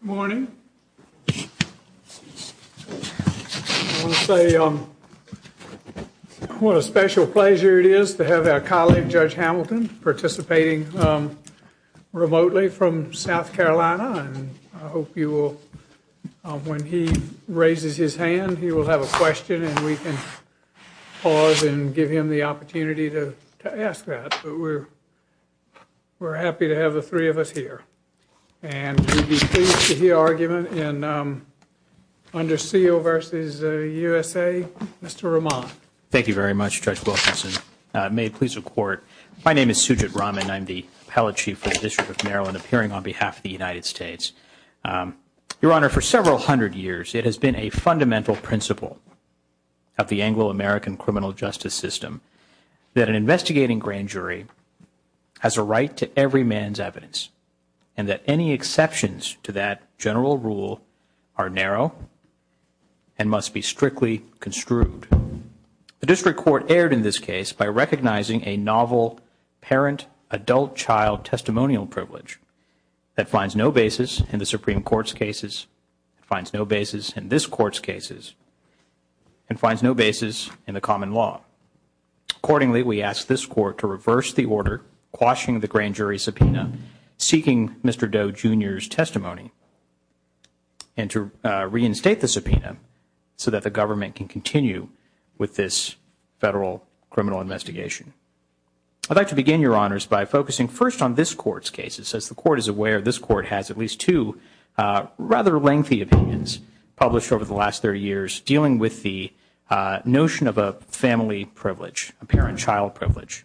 Morning. I want to say what a special pleasure it is to have our colleague Judge Hamilton participating remotely from South Carolina and I hope you will when he raises his hand he will have a question and we can pause and give him the opportunity to ask that. We're happy to have the three of us here and we'd be pleased to hear argument under Seal v. USA. Mr. Rahman. Thank you very much Judge Wilkinson. May it please the Court. My name is Sujit Raman. I'm the Appellate Chief for the District of Maryland appearing on behalf of the United States. Your Honor, for several hundred years it has been a fundamental principle of the District Court that an investigating grand jury has a right to every man's evidence and that any exceptions to that general rule are narrow and must be strictly construed. The District Court erred in this case by recognizing a novel parent-adult-child testimonial privilege that finds no basis in the Supreme Court's cases, finds no basis in this Court's cases, and finds no basis in the common law. Accordingly, we ask this Court to reverse the order quashing the grand jury subpoena, seeking Mr. Doe Jr.'s testimony, and to reinstate the subpoena so that the government can continue with this federal criminal investigation. I'd like to begin, Your Honors, by focusing first on this Court's cases. As the Court is aware, this Court has at least two rather lengthy opinions published over the last 30 years dealing with the notion of a family privilege, a parent-child privilege.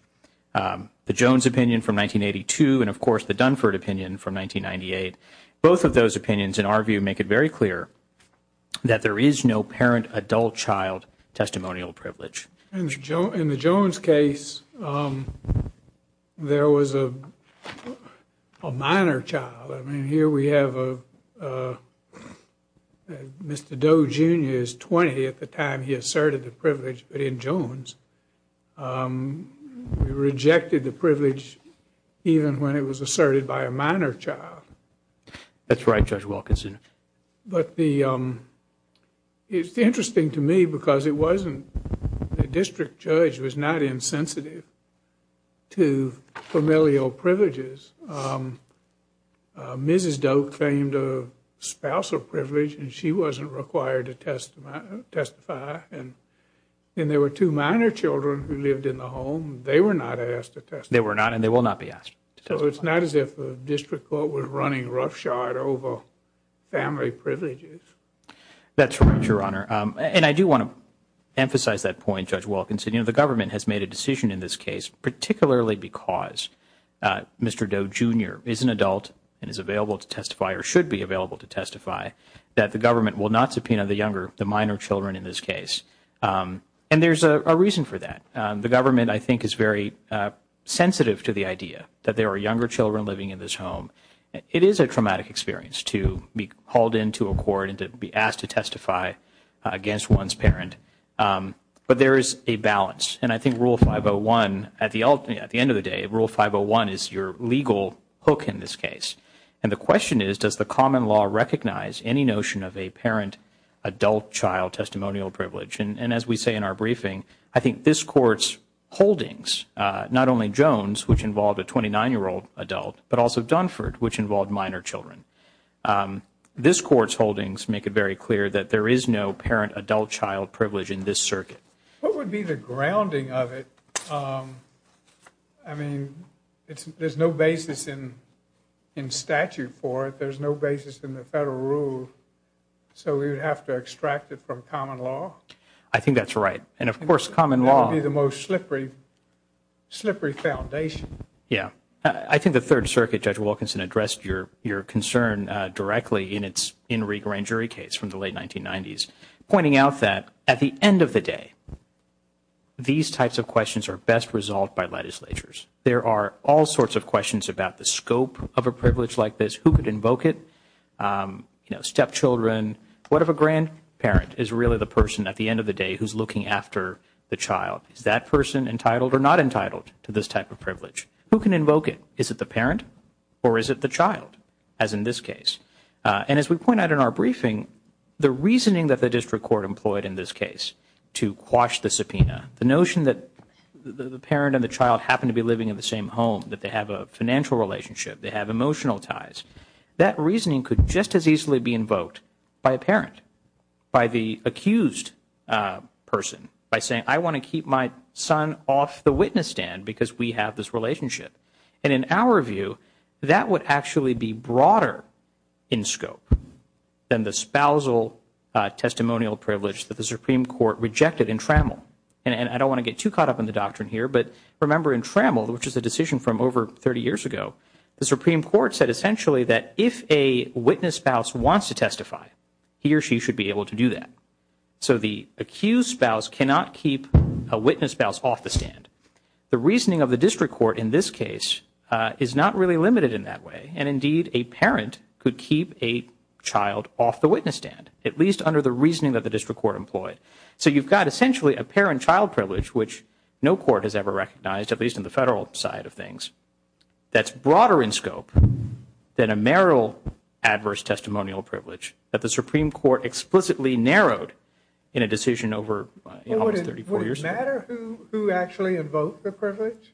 The Jones opinion from 1982 and, of course, the Dunford opinion from 1998. Both of those opinions, in our view, make it very clear that there is no parent-adult-child testimonial privilege. In the Mr. Doe Jr.'s 20 at the time he asserted the privilege, but in Jones, we rejected the privilege even when it was asserted by a minor child. That's right, Judge Wilkinson. But the, it's interesting to me because it wasn't, the district judge was not insensitive to familial privileges. Mrs. Doe claimed a spousal privilege and she wasn't required to testify, and there were two minor children who lived in the home. They were not asked to testify. They were not and they will not be asked. So it's not as if the district court was running roughshod over family privileges. That's right, Your Honor, and I do want to emphasize that point, Judge Wilkinson. You know, the government has made a decision in this case, particularly because Mr. Doe Jr. is an adult and is available to testify or should be available to testify, that the government will not subpoena the younger, the minor children in this case. And there's a reason for that. The government, I think, is very sensitive to the idea that there are younger children living in this home. It is a traumatic experience to be hauled into a court and be asked to testify against one's parent. But there is a balance, and I think Rule 501, at the end of the day, Rule 501 is your legal hook in this case. And the question is, does the common law recognize any notion of a parent-adult-child testimonial privilege? And as we say in our briefing, I think this Court's holdings, not only Jones, which involved a 29-year-old adult, but also Dunford, which involved minor children. This Court's holdings make it very clear that there is no parent-adult-child privilege in this circuit. What would be the grounding of it? I mean, there's no basis in statute for it. There's no basis in the federal rule. So we would have to extract it from common law? I think that's right. And of course, common law would be the most I think Judge Wilkinson addressed your concern directly in its In Re Grand Jury case from the late 1990s, pointing out that, at the end of the day, these types of questions are best resolved by legislatures. There are all sorts of questions about the scope of a privilege like this. Who could invoke it? You know, stepchildren. What if a grandparent is really the person, at the end of the day, who's looking after the child? Is that person entitled or not entitled to this type of privilege? Who can invoke it? Is it the parent or is it the child, as in this case? And as we point out in our briefing, the reasoning that the District Court employed in this case to quash the subpoena, the notion that the parent and the child happen to be living in the same home, that they have a financial relationship, they have emotional ties, that reasoning could just as easily be invoked by a parent, by the accused person, by saying, I want to keep my son off the witness stand because we have this relationship. And in our view, that would actually be broader in scope than the spousal testimonial privilege that the Supreme Court rejected in Trammell. And I don't want to get too caught up in the doctrine here, but remember in Trammell, which is a decision from over 30 years ago, the Supreme Court said essentially that if a witness spouse wants to testify, he or she should be able to do that. So the accused spouse cannot keep a witness spouse off the witness stand. The reasoning of the District Court in this case is not really limited in that way, and indeed a parent could keep a child off the witness stand, at least under the reasoning that the District Court employed. So you've got essentially a parent-child privilege, which no court has ever recognized, at least in the federal side of things, that's broader in scope than a marital adverse testimonial privilege that the Supreme Court explicitly narrowed in a decision over almost 34 years ago. Would it matter who actually invoked the privilege?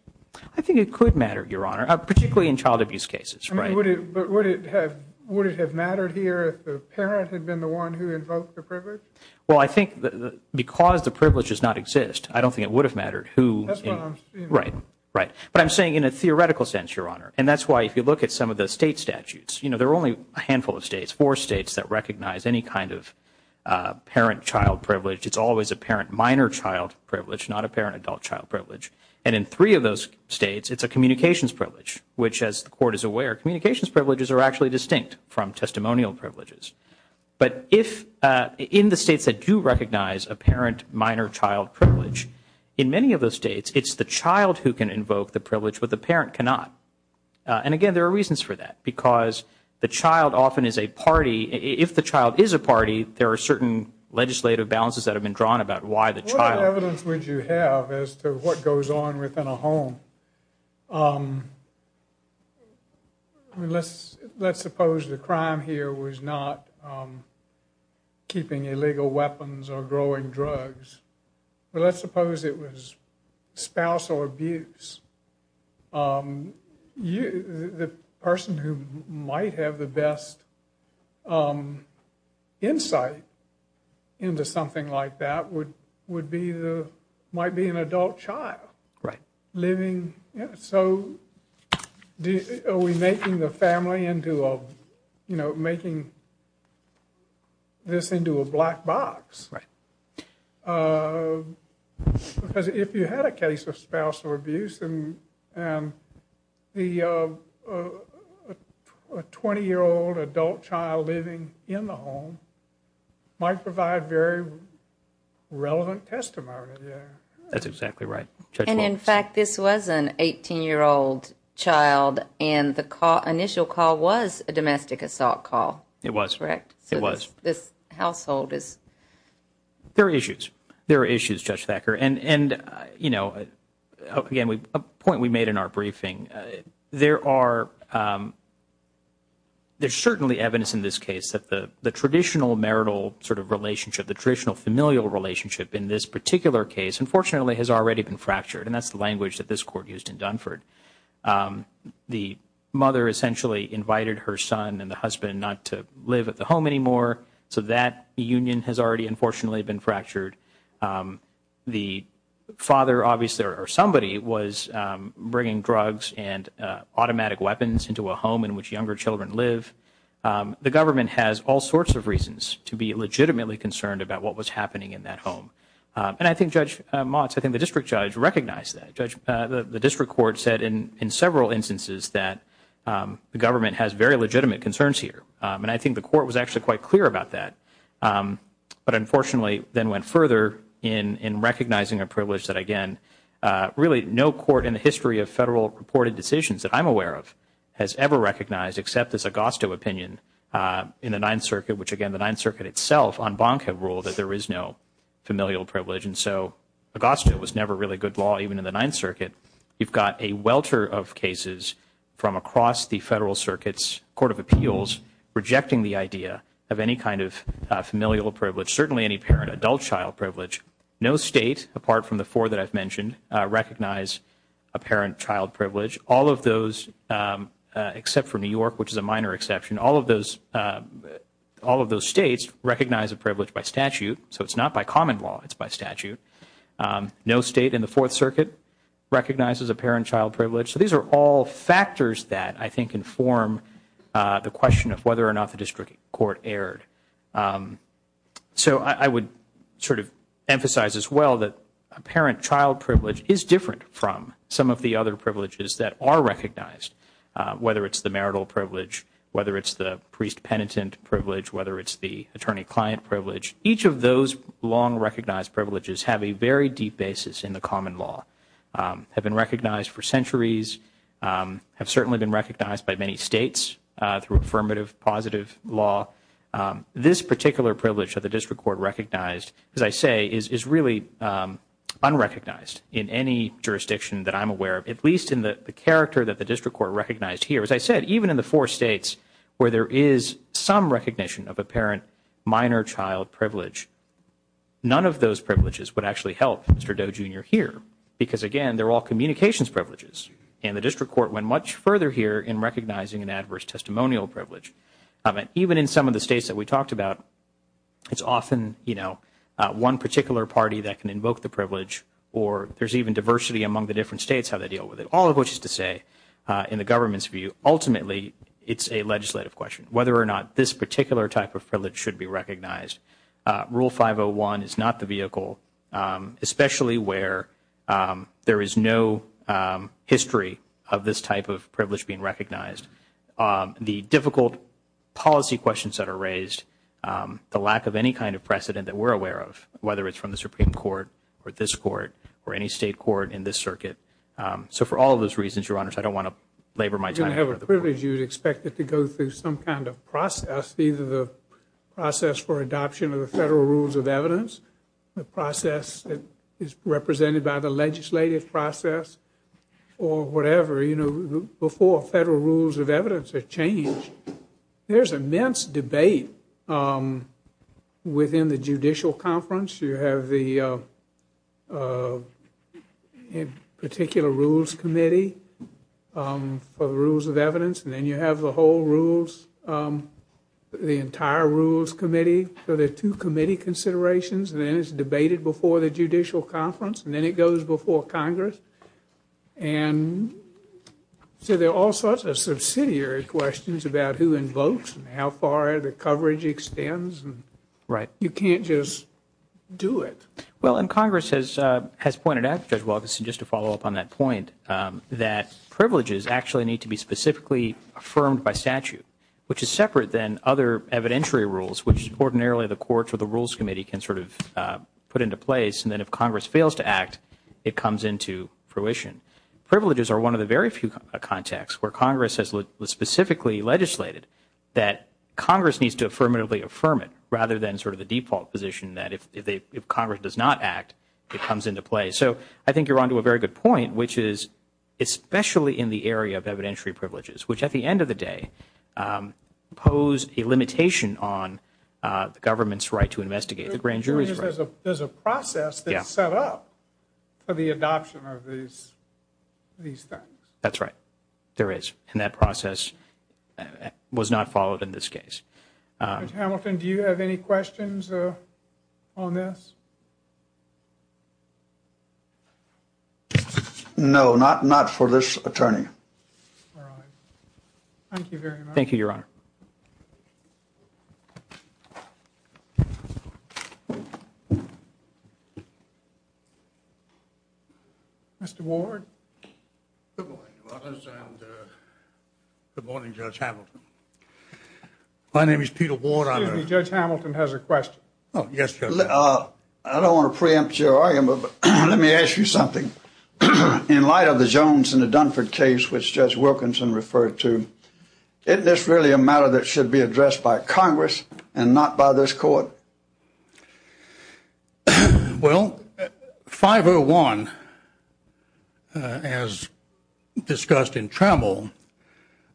I think it could matter, Your Honor, particularly in child abuse cases. But would it have mattered here if the parent had been the one who invoked the privilege? Well, I think because the privilege does not exist, I don't think it would have mattered who. Right, right. But I'm saying in a theoretical sense, Your Honor, and that's why if you look at some of the state statutes, you know, there are only a kind of parent-child privilege. It's always a parent-minor-child privilege, not a parent-adult-child privilege. And in three of those states, it's a communications privilege, which as the Court is aware, communications privileges are actually distinct from testimonial privileges. But if, in the states that do recognize a parent-minor-child privilege, in many of those states, it's the child who can invoke the privilege, but the parent cannot. And again, there are If the child is a party, there are certain legislative balances that have been drawn about why the child... What evidence would you have as to what goes on within a home? Let's suppose the crime here was not keeping illegal weapons or growing drugs, but let's suppose it was spousal abuse. The person who might have the best insight into something like that would be the... might be an adult child living... So are we making the family into a, you know, making this into a 20-year-old adult child living in the home might provide very relevant testimony there. That's exactly right. And in fact, this was an 18-year-old child and the initial call was a domestic assault call. It was. Correct? It was. So this household is... There are issues. There are issues, Judge Thacker. And, you know, again, a point we made in our briefing. There are... There's certainly evidence in this case that the traditional marital sort of relationship, the traditional familial relationship in this particular case, unfortunately, has already been fractured. And that's the language that this Court used in Dunford. The mother essentially invited her son and the husband not to live at the home anymore, so that union has already, unfortunately, been fractured. The father, obviously, or somebody was bringing drugs and automatic weapons into a home in which younger children live. The government has all sorts of reasons to be legitimately concerned about what was happening in that home. And I think Judge Motz, I think the District Judge recognized that. Judge, the District Court said in several instances that the government has very legitimate concerns here. And I think the District Court was very clear about that. But, unfortunately, then went further in recognizing a privilege that, again, really no court in the history of federal reported decisions that I'm aware of has ever recognized, except this Augusto opinion in the Ninth Circuit, which, again, the Ninth Circuit itself on bonk have ruled that there is no familial privilege. And so Augusto was never really good law, even in the Ninth Circuit. You've got a welter of cases from across the Federal Circuit's Court of Appeals rejecting the idea of any kind of familial privilege, certainly any parent-adult child privilege. No state, apart from the four that I've mentioned, recognize a parent-child privilege. All of those, except for New York, which is a minor exception, all of those all of those states recognize a privilege by statute. So it's not by common law, it's by statute. No state in the Fourth Circuit recognizes a parent-child privilege. So these are all factors that, I think, inform the question of whether or not the district court erred. So I would sort of emphasize as well that a parent- child privilege is different from some of the other privileges that are recognized, whether it's the marital privilege, whether it's the priest- penitent privilege, whether it's the attorney-client privilege. Each of those long-recognized privileges have a very deep basis in the common law, have been recognized for centuries, have certainly been recognized by many states through affirmative, positive law. This particular privilege of the district court recognized, as I say, is really unrecognized in any jurisdiction that I'm aware of, at least in the character that the district court recognized here. As I said, even in the four states where there is some recognition of a parent- minor-child privilege, none of those privileges would actually help Mr. Doe Jr. here because, again, they're all communications privileges. And the district court went much further here in recognizing an adverse testimonial privilege. Even in some of the states that we talked about, it's often, you know, one particular party that can invoke the privilege or there's even diversity among the different states how they deal with it. All of which is to say, in the government's view, ultimately it's a legislative question whether or not this particular type of privilege should be recognized. Rule 501 is not the vehicle, especially where there is no history of this type of privilege being recognized. The difficult policy questions that are raised, the lack of any kind of precedent that we're aware of, whether it's from the Supreme Court or this court or any state court in this circuit. So for all those reasons, Your Honors, I don't want to labor my time. You don't have a privilege, you'd expect it to go through some kind of process, either the process for adoption of the federal rules of evidence, the process that is represented by the legislative process, or whatever, you know, before federal rules of evidence are changed, there's immense debate within the judicial conference. You have the particular rules committee for the rules of evidence and then you have the whole rules, the entire rules committee. So there are two committee considerations and then it's before Congress. And so there are all sorts of subsidiary questions about who invokes and how far the coverage extends. Right. You can't just do it. Well and Congress has has pointed out, Judge Walterson, just to follow up on that point, that privileges actually need to be specifically affirmed by statute, which is separate than other evidentiary rules, which ordinarily the courts or the Rules Committee can sort of put into place. And then if Congress fails to act, it comes into fruition. Privileges are one of the very few contexts where Congress has specifically legislated that Congress needs to affirmatively affirm it, rather than sort of the default position that if they, if Congress does not act, it comes into play. So I think you're on to a very good point, which is especially in the area of evidentiary privileges, which at the end of the day pose a limitation on the government's right to investigate the the adoption of these things. That's right. There is. And that process was not followed in this case. Hamilton, do you have any questions on this? No, not not for this attorney. Mr. Ward. Good morning, Judge Hamilton. My name is Peter Ward. Excuse me, Judge Hamilton has a question. Oh, yes, Judge. I don't want to preempt your argument, but let me ask you something. In light of the Jones and the Dunford case, which Judge Wilkinson referred to, isn't this really a matter that should be addressed by Congress and not by this Court? Well, 501, as discussed in Trammell,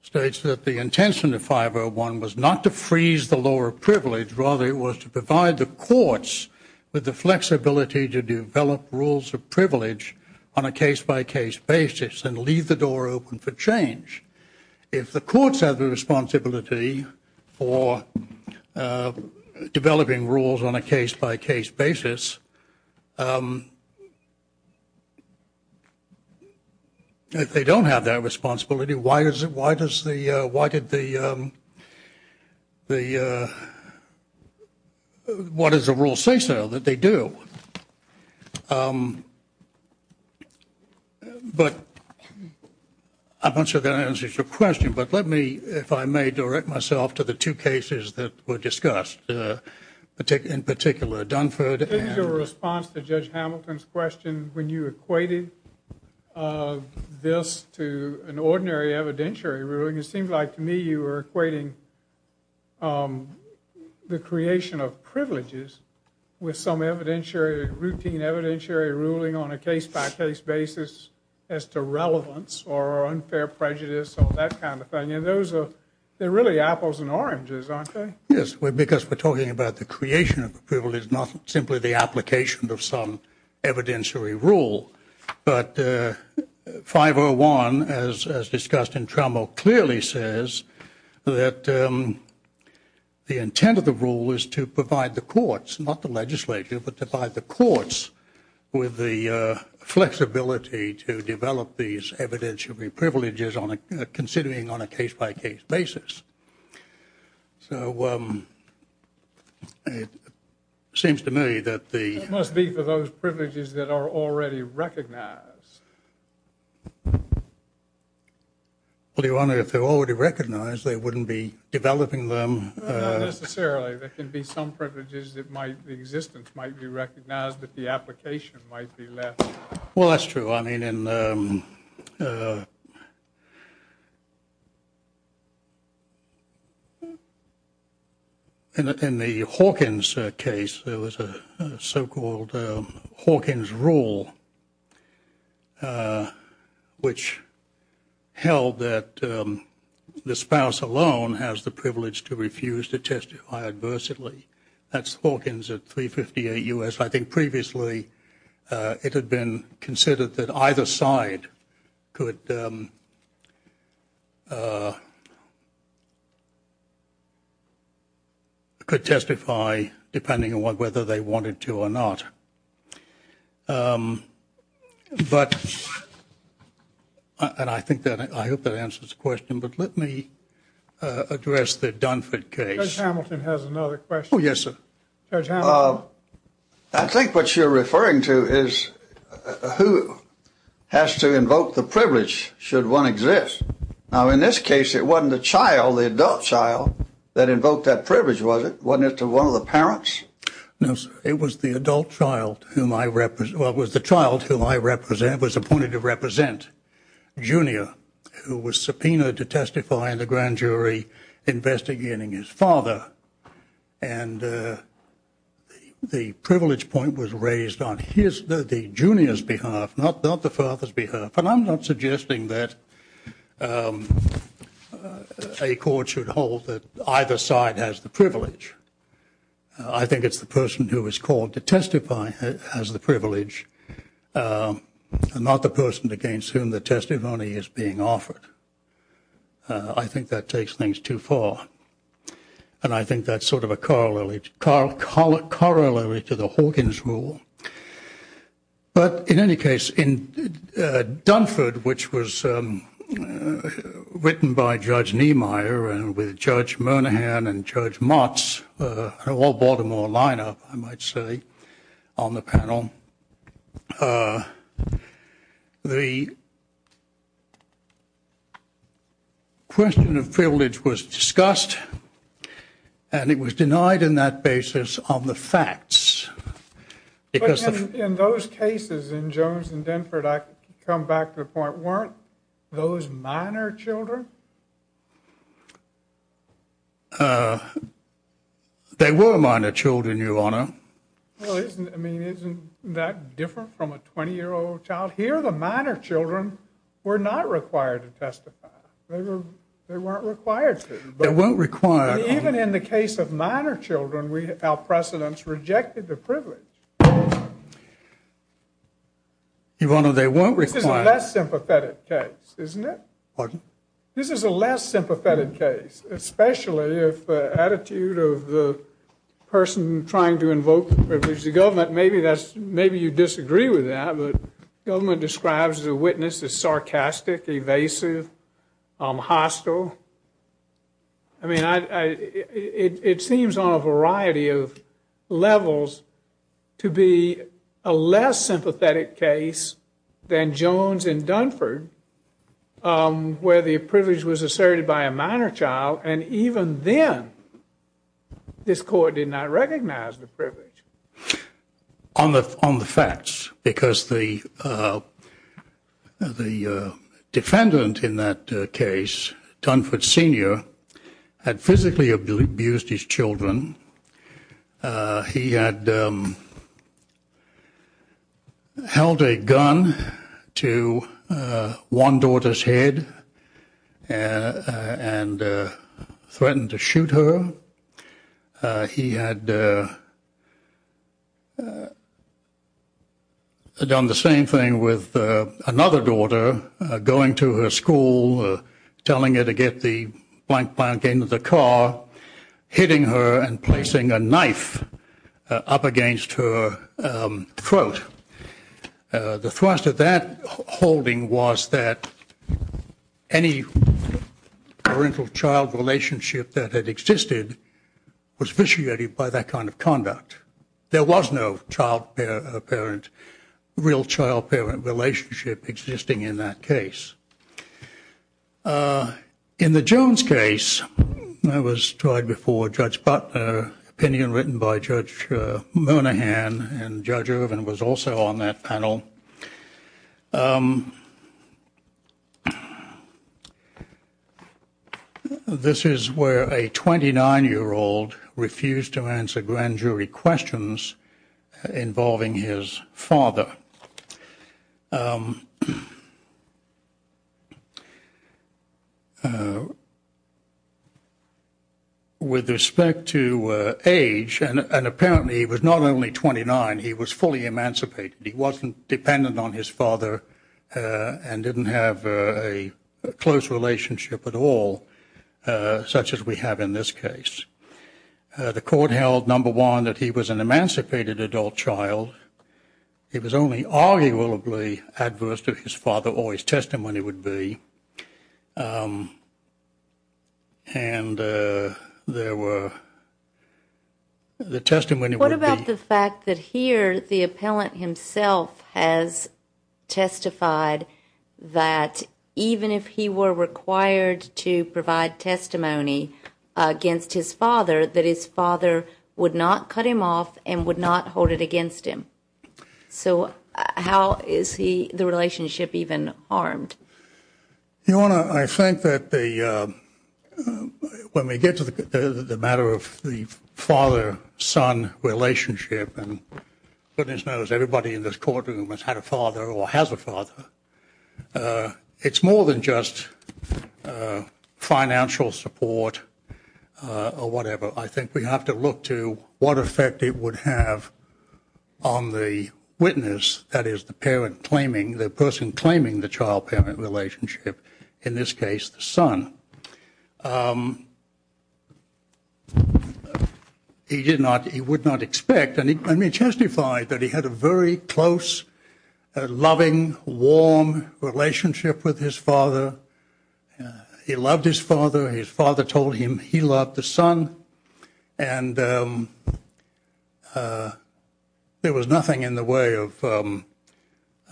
states that the intention of 501 was not to freeze the lower privilege, rather it was to provide the courts with the flexibility to develop rules of privilege on a case-by-case basis and leave the door open for change. If the courts have the responsibility for that, if they don't have that responsibility, why does the why did the what is the rule say so that they do? But I'm not sure that answers your question, but let me, if I may, direct myself to the two cases that were Judge Hamilton's question when you equated this to an ordinary evidentiary ruling. It seemed like to me you were equating the creation of privileges with some evidentiary, routine evidentiary ruling on a case-by-case basis as to relevance or unfair prejudice or that kind of thing. And those are, they're really apples and oranges, aren't they? Yes, because we're talking about the application of some evidentiary rule, but 501, as discussed in Trammell, clearly says that the intent of the rule is to provide the courts, not the legislature, but to provide the courts with the flexibility to develop these evidentiary privileges on a, considering on a case-by-case basis. So it seems to me that the... It must be for those privileges that are already recognized. Well, Your Honor, if they're already recognized, they wouldn't be developing them... Not necessarily. There can be some privileges that might, the existence might be recognized, but the application might be left... Well, that's true. I mean, in, in the Hawkins case, there was a so-called Hawkins rule, which held that the spouse alone has the privilege to refuse to testify adversely. That's Hawkins at 358 U.S. I think previously it had been considered that either side could, could testify depending on whether they wanted to or not. But, and I think that, I hope that answers the question, but let me address the Dunford case. Judge Hamilton has another question. Oh, yes, sir. Judge Hamilton. I think what you're referring to is who has to invoke the privilege should one exist. Now, in this case, it wasn't the child, the adult child, that invoked that to one of the parents? No, sir. It was the adult child whom I represent, well, it was the child whom I represent, was appointed to represent Junior, who was subpoenaed to testify in the grand jury investigating his father. And the privilege point was raised on his, the Junior's behalf, not, not the father's behalf. And I'm not I think it's the person who was called to testify has the privilege, not the person against whom the testimony is being offered. I think that takes things too far, and I think that's sort of a corollary, corollary to the Hawkins rule. But, in any case, in Dunford, which was written by Judge Niemeyer and with Judge Monaghan and Judge Motz, all Baltimore lineup, I might say, on the panel, the question of privilege was discussed, and it was denied in that basis on the facts. In those cases in Jones and Dunford, I come back to the point, weren't those minor children? They were minor children, Your Honor. Well, isn't, I mean, isn't that different from a 20-year-old child? Here, the minor children were not required to testify. They weren't required to. They weren't required. Even in the case of minor children, we, our precedents rejected the privilege. Your Honor, they weren't required. This is a less sympathetic case, isn't it? Pardon? This is a less sympathetic case, especially if the attitude of the person trying to invoke the privilege of the government, maybe that's, maybe you disagree with that, but government describes the witness as sarcastic, evasive, hostile. I mean, I, it seems on a Jones and Dunford where the privilege was asserted by a minor child, and even then, this court did not recognize the privilege. On the, on the facts, because the, the defendant in that case, Dunford Sr., had physically abused his one daughter's head and threatened to shoot her. He had done the same thing with another daughter, going to her school, telling her to get the blank, blank, end of the car, hitting her and placing a knife up against her throat. The thrust of that holding was that any parental-child relationship that had existed was vitiated by that kind of conduct. There was no child-parent, real child-parent relationship existing in that case. In the Jones case, that was tried before Judge Butler, opinion written by Judge Monahan, and Judge Wilson on that panel. This is where a 29-year-old refused to answer grand jury questions involving his father. With respect to age, and apparently he was not only 29, he was fully emancipated. He wasn't dependent on his father and didn't have a close relationship at all, such as we have in this case. The court held, number one, that he was an emancipated adult child. He was only arguably adverse to his father, or his testimony would be, and there were, the fact that here the appellant himself has testified that even if he were required to provide testimony against his father, that his father would not cut him off and would not hold it against him. So how is he, the relationship, even harmed? Your Honor, I think that the, when we get to the relationship, and goodness knows everybody in this courtroom has had a father or has a father, it's more than just financial support or whatever. I think we have to look to what effect it would have on the witness, that is the parent claiming, the person claiming the child-parent relationship, in this case the son. He did not, he would not expect, and he testified that he had a very close, loving, warm relationship with his father. He loved his father, his father told him he loved the son, and there was nothing in the way of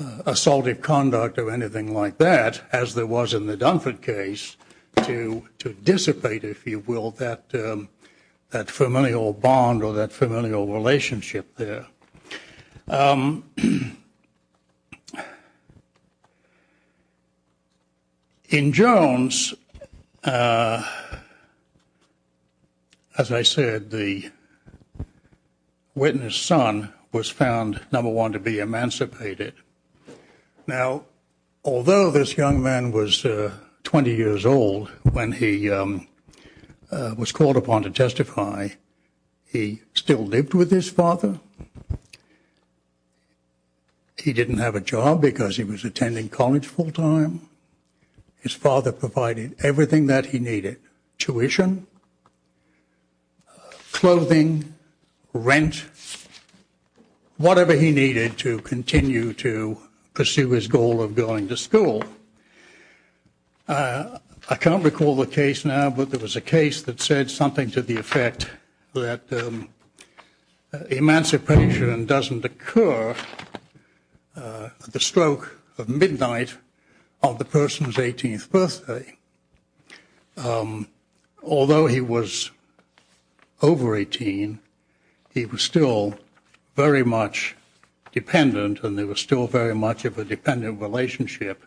assaultive conduct or anything like that, as there was in the Dunford case, to dissipate, if you will, that familial bond or that familial relationship there. In Jones, as I said, the witness son was found, number one, to be emancipated. Now, although this young man was 20 years old when he was called upon to testify, he still lived with his father. He didn't have a job because he was attending college full His father provided everything that he needed, tuition, clothing, rent, whatever he needed to continue to pursue his goal of going to school. I can't recall the case now, but there was a case that said something to the effect that emancipation doesn't occur at the stroke of midnight of the person's 18th birthday. Although he was over 18, he was still very much dependent, and there was still very much of a dependent relationship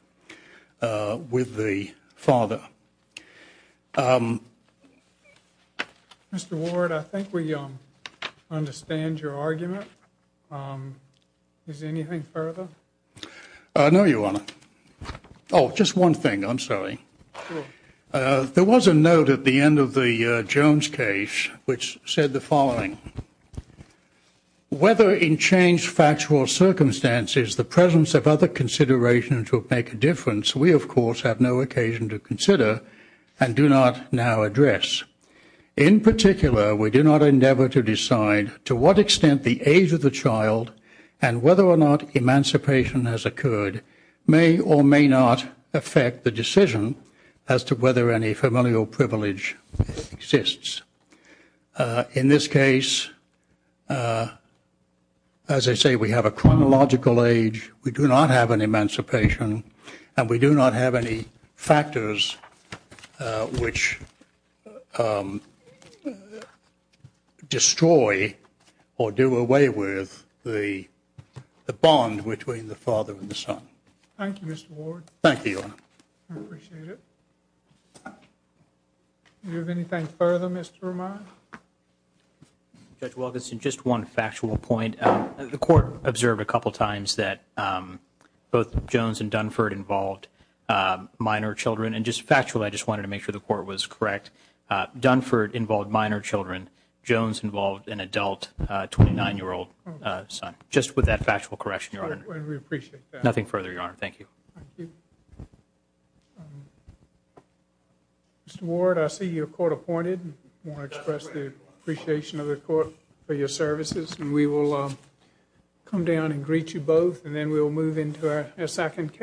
with the father. Mr. Ward, I think we understand your argument. Is there anything further? No, Your Honor. Oh, just one thing. I'm sorry. There was a note at the end of the Jones case which said the following. Whether in changed factual circumstances the presence of other considerations will make a difference, we of course have no occasion to consider and do not now the age of the child and whether or not emancipation has occurred may or may not affect the decision as to whether any familial privilege exists. In this case, as I say, we have a chronological age, we do not have an emancipation, and we do not have any factors which destroy or do away with the bond between the father and the son. Thank you, Mr. Ward. Thank you, Your Honor. I appreciate it. Do you have anything further, Mr. Romano? Judge Wilkinson, just one factual point. The court observed a couple times that both Jones and Dunford involved minor children and just factually I just wanted to make sure the court was correct. Dunford involved minor children, Jones involved an adult 29-year-old son. Just with that factual correction, Your Honor. We appreciate that. Nothing further, Your Honor. Thank you. Mr. Ward, I see you're court-appointed. I want to express the appreciation of the court for your We will move into our second case.